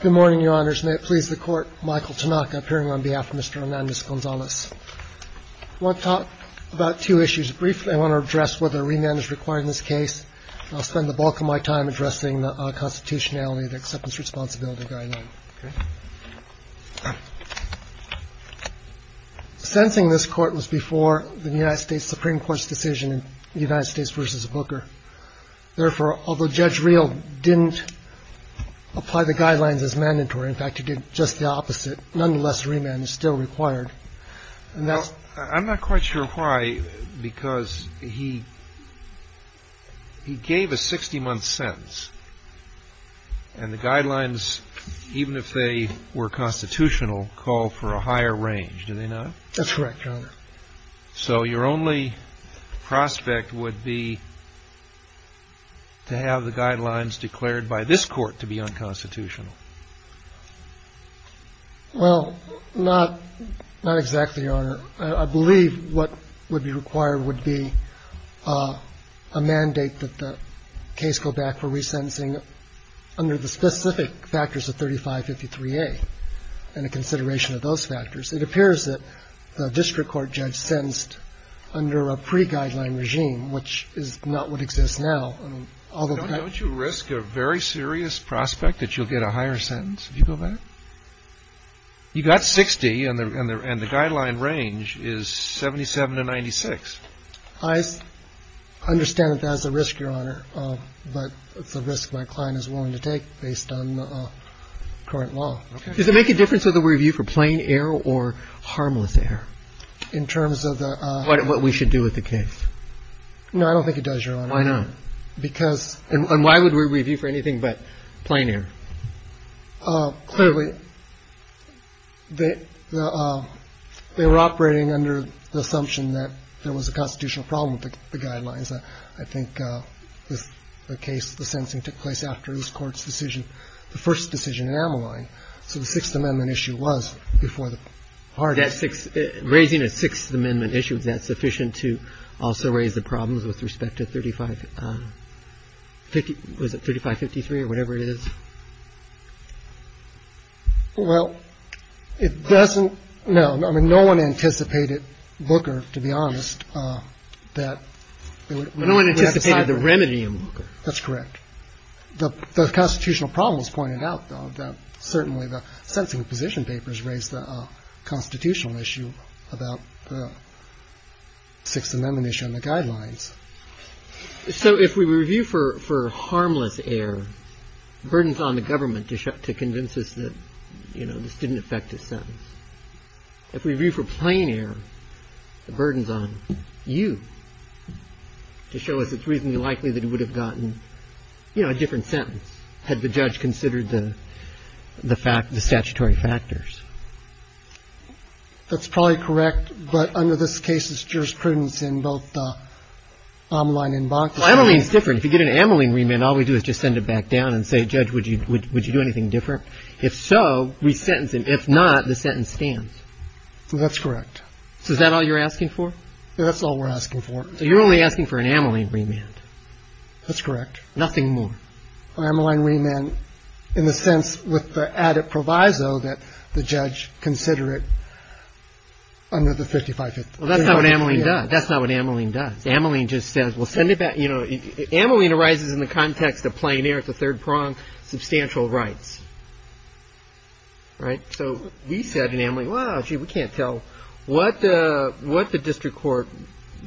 Good morning, Your Honors. May it please the Court, Michael Tanaka, appearing on behalf of Mr. Hernandez-Gonzalez. I want to talk about two issues briefly. I want to address whether a remand is required in this case. I'll spend the bulk of my time addressing the constitutionality of the Acceptance Responsibility Guideline. Sentencing this Court was before the United States Supreme Court's decision in the United States v. Booker. Therefore, although Judge Rehl didn't apply the guidelines as mandatory, in fact, he did just the opposite, nonetheless, remand is still required. And that's… CHIEF JUSTICE ROBERTS Well, I'm not quite sure why, because he gave a 60-month sentence. And the guidelines, even if they were constitutional, call for a higher range, do they not? MR. HERNANDEZ-GONZALEZ That's correct, Your Honor. CHIEF JUSTICE ROBERTS So your only prospect would be to have the guidelines declared by this Court to be unconstitutional. MR. HERNANDEZ-GONZALEZ Well, not exactly, Your Honor. I believe what would be required would be a mandate that the case go back for resentencing under the specific factors of 3553A and a consideration of those factors. It appears that the district court judge sentenced under a pre-guideline regime, which is not what exists now. CHIEF JUSTICE ROBERTS Don't you risk a very serious prospect that you'll get a higher sentence if you go back? You got 60, and the guideline range is 77 to 96. MR. HERNANDEZ-GONZALEZ I understand that that's a risk, Your Honor, but it's a risk my client is willing to take based on current law. CHIEF JUSTICE ROBERTS Does it make a difference whether we review for plain error or harmless error? MR. HERNANDEZ-GONZALEZ In terms of the... CHIEF JUSTICE ROBERTS What we should do with the case? MR. HERNANDEZ-GONZALEZ No, I don't think it does, Your Honor. CHIEF JUSTICE ROBERTS Why not? MR. HERNANDEZ-GONZALEZ Because... CHIEF JUSTICE ROBERTS And why would we review for anything but plain error? MR. HERNANDEZ-GONZALEZ Clearly, they were operating under the assumption that there was a constitutional problem with the guidelines. I think the case, the sentencing, took place after this Court's decision, the first decision in Ameline. So the Sixth Amendment issue was before the court. CHIEF JUSTICE ROBERTS Raising a Sixth Amendment issue, is that sufficient to also raise the problems with respect to 35, was it 3553 or whatever it is? MR. HERNANDEZ-GONZALEZ Well, it doesn't... No, I mean, no one anticipated Booker, to be honest, that... CHIEF JUSTICE ROBERTS No one anticipated the remedy in Booker. MR. HERNANDEZ-GONZALEZ That's correct. The constitutional problem was pointed out, though, that certainly the sentencing position papers raised the constitutional issue about the Sixth Amendment issue and the guidelines. CHIEF JUSTICE ROBERTS So if we review for harmless error, the burden is on the government to convince us that, you know, this didn't affect his sentence. If we review for plain error, the burden is on you to show us it's reasonably likely that he would have gotten, you know, a different sentence had the judge considered the statutory factors. MR. HERNANDEZ-GONZALEZ That's probably correct. But under this case, it's jurisprudence in both Ameline and Bonk. CHIEF JUSTICE ROBERTS Well, Ameline's different. If you get an Ameline remand, all we do is just send it back down and say, Judge, would you do anything different? If so, we sentence him. MR. HERNANDEZ-GONZALEZ That's correct. CHIEF JUSTICE ROBERTS So is that all you're asking for? MR. HERNANDEZ-GONZALEZ That's all we're asking for. CHIEF JUSTICE ROBERTS So you're only asking for an Ameline remand. MR. HERNANDEZ-GONZALEZ That's correct. CHIEF JUSTICE ROBERTS Nothing more. MR. HERNANDEZ-GONZALEZ Well, Ameline remand in the sense with the added proviso that the judge consider it under the 5550. CHIEF JUSTICE ROBERTS Well, that's not what Ameline does. That's not what Ameline does. Ameline just says, well, send it back. You know, Ameline arises in the context of plain air. It's a third prong, substantial rights. Right? So we said in Ameline, well, gee, we can't tell. What the district court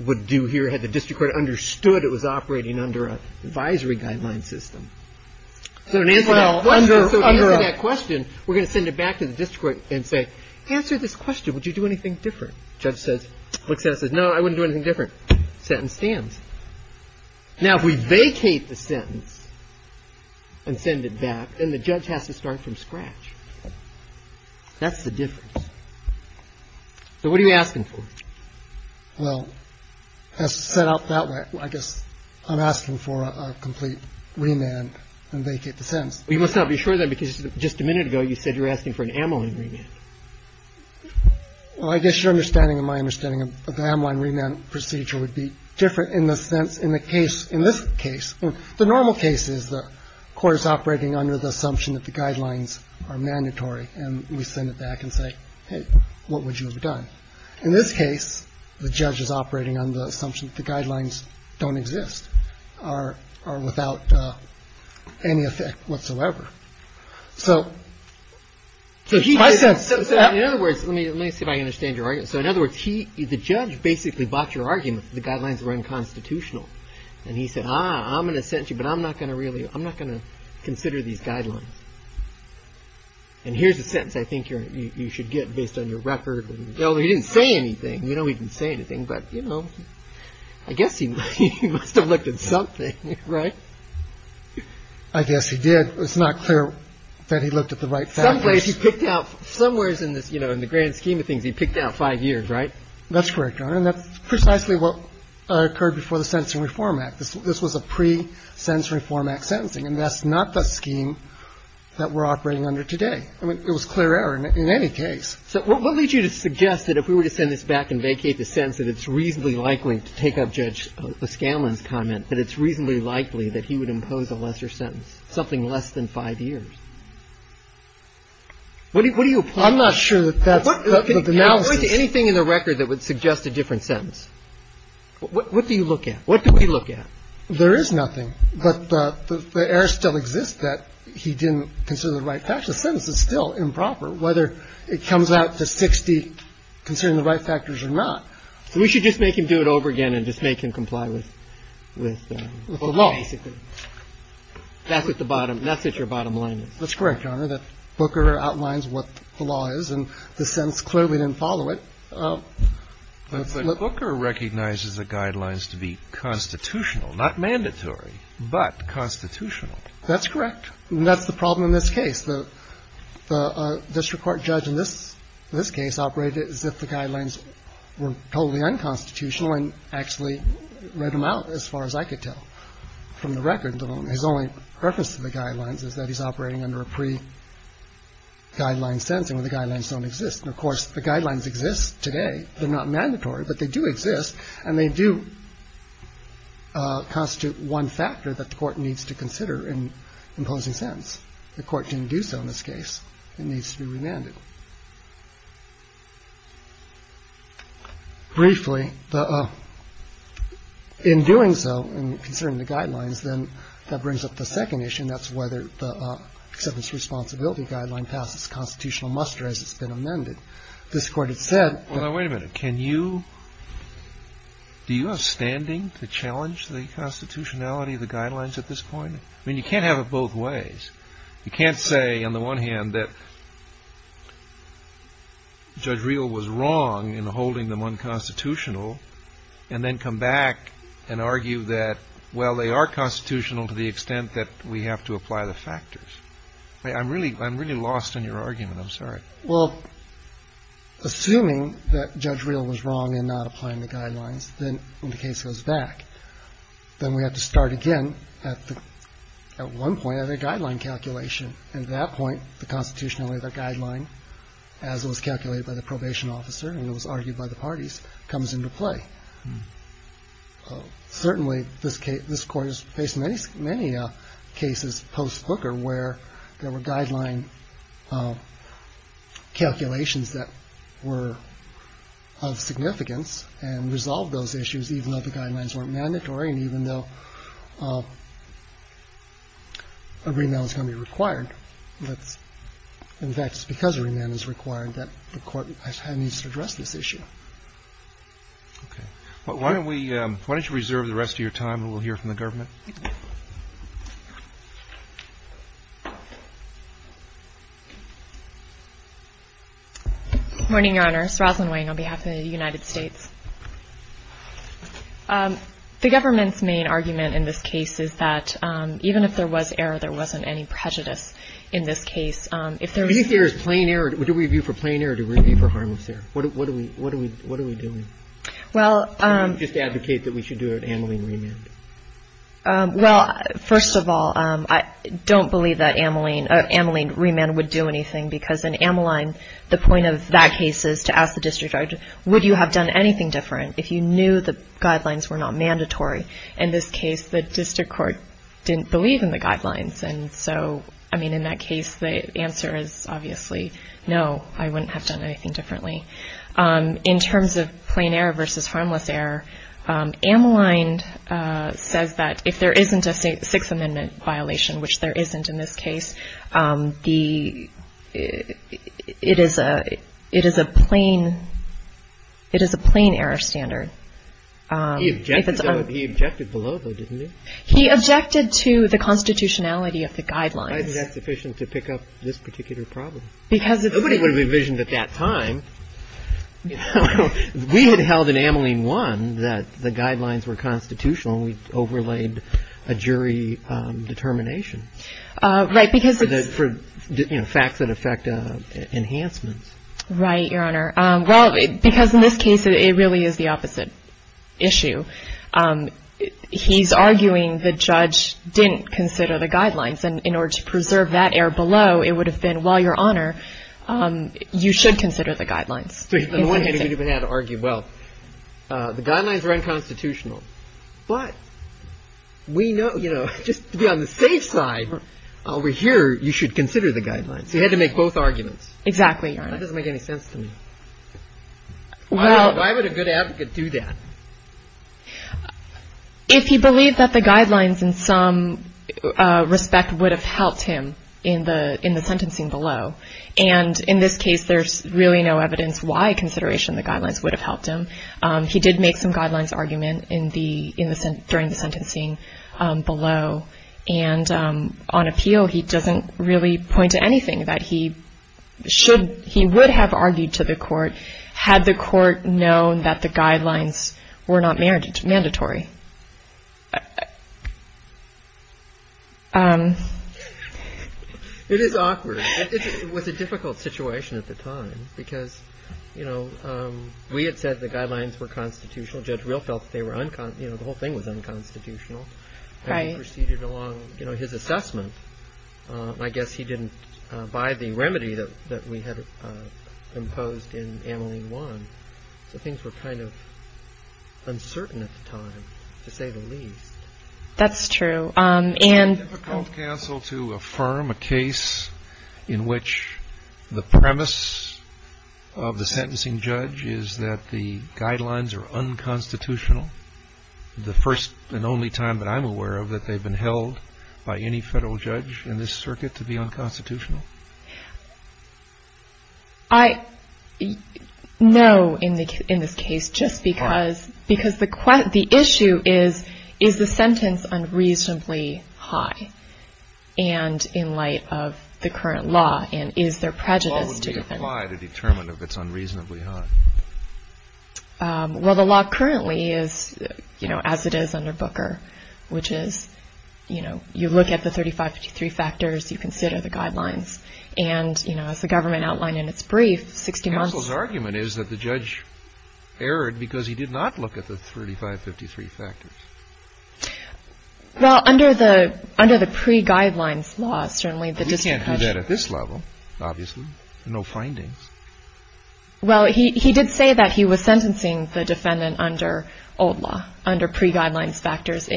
would do here had the district court understood it was operating under an advisory guideline system. So in answering that question, we're going to send it back to the district court and say, answer this question. Would you do anything different? Judge says, looks at it and says, no, I wouldn't do anything different. Sentence stands. Now, if we vacate the sentence and send it back and the judge has to start from scratch, that's the difference. So what are you asking for? CHIEF JUSTICE ROBERTS Well, as set out that way, I guess I'm asking for a complete remand and vacate the sentence. CHIEF JUSTICE ROBERTS Well, you must not be sure of that because just a minute ago you said you were asking for an Ameline remand. CHIEF JUSTICE ROBERTS Well, I guess your understanding and my understanding of the Ameline remand procedure would be different in the sense in the case, in this case. The normal case is the court is operating under the assumption that the guidelines are mandatory. And we send it back and say, hey, what would you have done? In this case, the judge is operating on the assumption that the guidelines don't exist or are without any effect whatsoever. So. So he says, in other words, let me let me see if I understand your argument. So in other words, he the judge basically bought your argument. The guidelines were unconstitutional. And he said, I'm going to send you, but I'm not going to really I'm not going to consider these guidelines. And here's a sentence I think you should get based on your record. He didn't say anything. You know, he didn't say anything. But, you know, I guess he must have looked at something. Right. I guess he did. It's not clear that he looked at the right factors. Some place he picked out somewhere in this, you know, in the grand scheme of things, he picked out five years, right? That's correct, Your Honor. And that's precisely what occurred before the Sentencing Reform Act. This was a pre-Sentencing Reform Act sentencing. And that's not the scheme that we're operating under today. I mean, it was clear error in any case. So what leads you to suggest that if we were to send this back and vacate the sentence that it's reasonably likely to take up Judge O'Scanlan's comment, that it's reasonably likely that he would impose a lesser sentence, something less than five years? What do you opinion? I'm not sure that that's the analysis. You can point to anything in the record that would suggest a different sentence. What do you look at? What do we look at? There is nothing. But the error still exists that he didn't consider the right factors. The sentence is still improper, whether it comes out to 60 considering the right factors or not. So we should just make him do it over again and just make him comply with the law, basically. That's at the bottom. That's at your bottom line. That's correct, Your Honor. That Booker outlines what the law is. And the sentence clearly didn't follow it. But Booker recognizes the guidelines to be constitutional, not mandatory, but constitutional. That's correct. And that's the problem in this case. The district court judge in this case operated as if the guidelines were totally unconstitutional and actually read them out as far as I could tell from the record. His only reference to the guidelines is that he's operating under a pre-guideline sentence where the guidelines don't exist. And, of course, the guidelines exist today. They're not mandatory, but they do exist. And they do constitute one factor that the Court needs to consider in imposing a pre-guideline sentence. The Court didn't do so in this case. It needs to be remanded. Briefly, in doing so, in considering the guidelines, then that brings up the second issue, and that's whether the acceptance of responsibility guideline passes constitutional muster as it's been amended. This Court has said that — Well, now, wait a minute. Can you — do you have standing to challenge the constitutionality of the guidelines at this point? I mean, you can't have it both ways. You can't say, on the one hand, that Judge Reel was wrong in holding them unconstitutional and then come back and argue that, well, they are constitutional to the extent that we have to apply the factors. I'm really lost on your argument. I'm sorry. Well, assuming that Judge Reel was wrong in not applying the guidelines, then the case goes back. Then we have to start again at one point of the guideline calculation. At that point, the constitutionality of the guideline, as it was calculated by the probation officer and it was argued by the parties, comes into play. Certainly, this Court has faced many cases post-Booker where there were guideline calculations that were of significance and resolved those issues, even though the guidelines weren't mandatory and even though a remand is going to be required. In fact, it's because a remand is required that the Court needs to address this issue. Okay. Why don't you reserve the rest of your time and we'll hear from the government. Good morning, Your Honor. This is Rosalyn Wang on behalf of the United States. The government's main argument in this case is that even if there was error, there wasn't any prejudice in this case. If there is plain error, what do we view for plain error? Do we view for harmless error? What are we doing? Can we just advocate that we should do an Ameline remand? Well, first of all, I don't believe that an Ameline remand would do anything because in Ameline, the point of that case is to ask the district judge, would you have done anything different if you knew the guidelines were not mandatory? In this case, the district court didn't believe in the guidelines. And so, I mean, in that case, the answer is obviously no, I wouldn't have done anything differently. In terms of plain error versus harmless error, Ameline says that if there isn't a Sixth Amendment violation, which there isn't in this case, it is a plain error standard. He objected below, though, didn't he? He objected to the constitutionality of the guidelines. Why is that sufficient to pick up this particular problem? Nobody would have envisioned at that time, you know, we had held in Ameline 1 that the guidelines were constitutional and we overlaid a jury determination for, you know, facts that affect enhancements. Right, Your Honor. Well, because in this case, it really is the opposite issue. He's arguing the judge didn't consider the guidelines. And in order to preserve that error below, it would have been, well, Your Honor, you should consider the guidelines. On one hand, he would have had to argue, well, the guidelines are unconstitutional. But we know, you know, just to be on the safe side over here, you should consider the guidelines. He had to make both arguments. Exactly, Your Honor. That doesn't make any sense to me. Why would a good advocate do that? If he believed that the guidelines in some respect would have helped him in the sentencing below. And in this case, there's really no evidence why consideration of the guidelines would have helped him. He did make some guidelines argument during the sentencing below. And on appeal, he doesn't really point to anything that he would have argued to the court had the court known that the guidelines were not mandatory. It is awkward. It was a difficult situation at the time because, you know, we had said the guidelines were constitutional. Judge Real felt they were unconstitutional. You know, the whole thing was unconstitutional. Right. You know, his assessment. I guess he didn't buy the remedy that we had imposed in Emily one. So things were kind of uncertain at the time, to say the least. That's true. And counsel to affirm a case in which the premise of the sentencing judge is that the guidelines are unconstitutional. The first and only time that I'm aware of that they've been held by any federal judge in this circuit to be unconstitutional. I know in this case just because because the question the issue is, is the sentence unreasonably high? And in light of the current law, and is there prejudice to apply to determine if it's unreasonably high? Well, the law currently is, you know, as it is under Booker, which is, you know, you look at the 35, 53 factors, you consider the guidelines. And, you know, as the government outlined in its brief, 60 months. The argument is that the judge erred because he did not look at the 35, 53 factors. Well, under the under the pre guidelines laws, certainly the district. You can't do that at this level, obviously. No findings. Well, he did say that he was sentencing the defendant under old law under pre guidelines factors,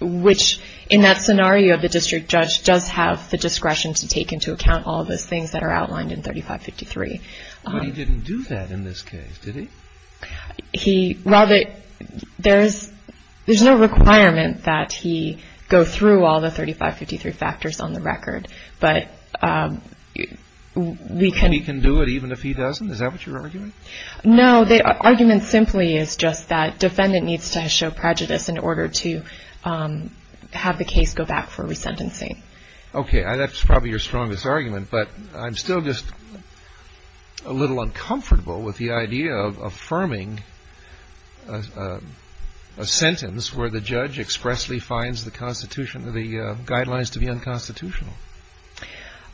which in that scenario of the district judge does have the discretion to take into account all those things that are outlined in 35, 53. But he didn't do that in this case, did he? He rather there's there's no requirement that he go through all the 35, 53 factors on the record. But we can do it even if he doesn't. Is that what you're arguing? No, the argument simply is just that defendant needs to show prejudice in order to have the case go back for resentencing. OK, that's probably your strongest argument. But I'm still just a little uncomfortable with the idea of affirming a sentence where the judge expressly finds the Constitution, the guidelines to be unconstitutional.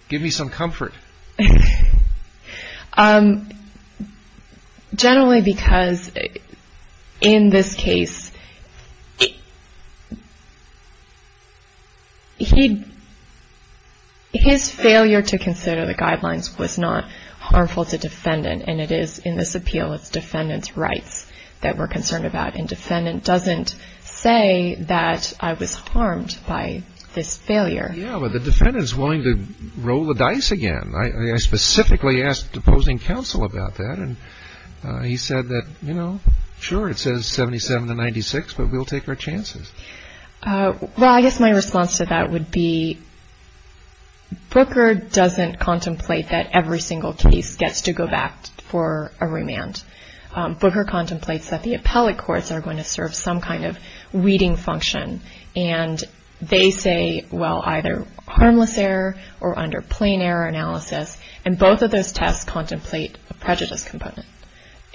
Give me some comfort. Generally, because in this case, he his failure to consider the guidelines was not harmful to defendant. And it is in this appeal. It's defendants rights that we're concerned about. And defendant doesn't say that I was harmed by this failure. Yeah, well, the defendant is willing to roll the dice again. I specifically asked opposing counsel about that. And he said that, you know, sure, it says 77 to 96, but we'll take our chances. Well, I guess my response to that would be Booker doesn't contemplate that every single case gets to go back for a remand. Booker contemplates that the appellate courts are going to serve some kind of reading function. And they say, well, either harmless error or under plain error analysis. And both of those tests contemplate a prejudice component.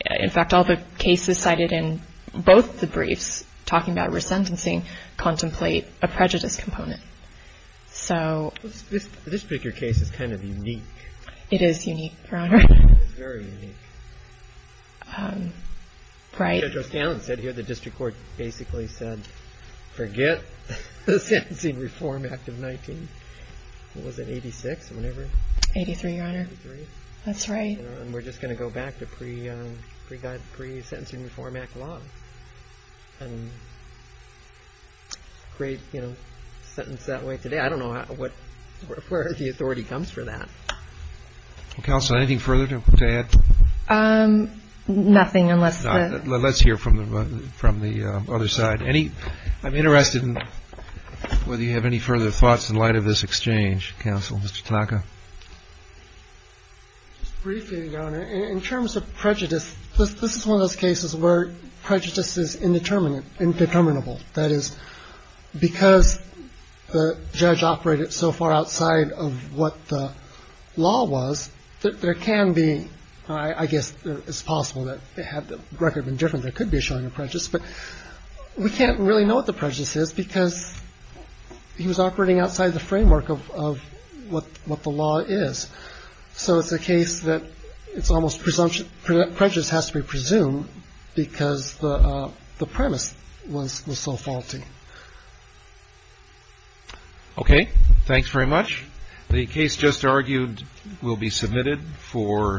In fact, all the cases cited in both the briefs talking about resentencing contemplate a prejudice component. So this particular case is kind of unique. It is unique. Very unique. Right. The district court basically said, forget the Sentencing Reform Act of 19. What was it, 86? 83, Your Honor. That's right. And we're just going to go back to pre-sentencing reform act law. And great, you know, sentence that way today. I don't know where the authority comes from that. Counsel, anything further to add? Nothing, unless the. Let's hear from the other side. I'm interested in whether you have any further thoughts in light of this exchange, counsel, Mr. Tanaka. Briefly, Your Honor, in terms of prejudice, this is one of those cases where prejudice is indeterminate, indeterminable. That is because the judge operated so far outside of what the law was. There can be. I guess it's possible that they have the record and different. But we can't really know what the prejudice is because he was operating outside the framework of what the law is. So it's a case that it's almost presumption. Prejudice has to be presumed because the premise was so faulty. OK, thanks very much. The case just argued will be submitted for.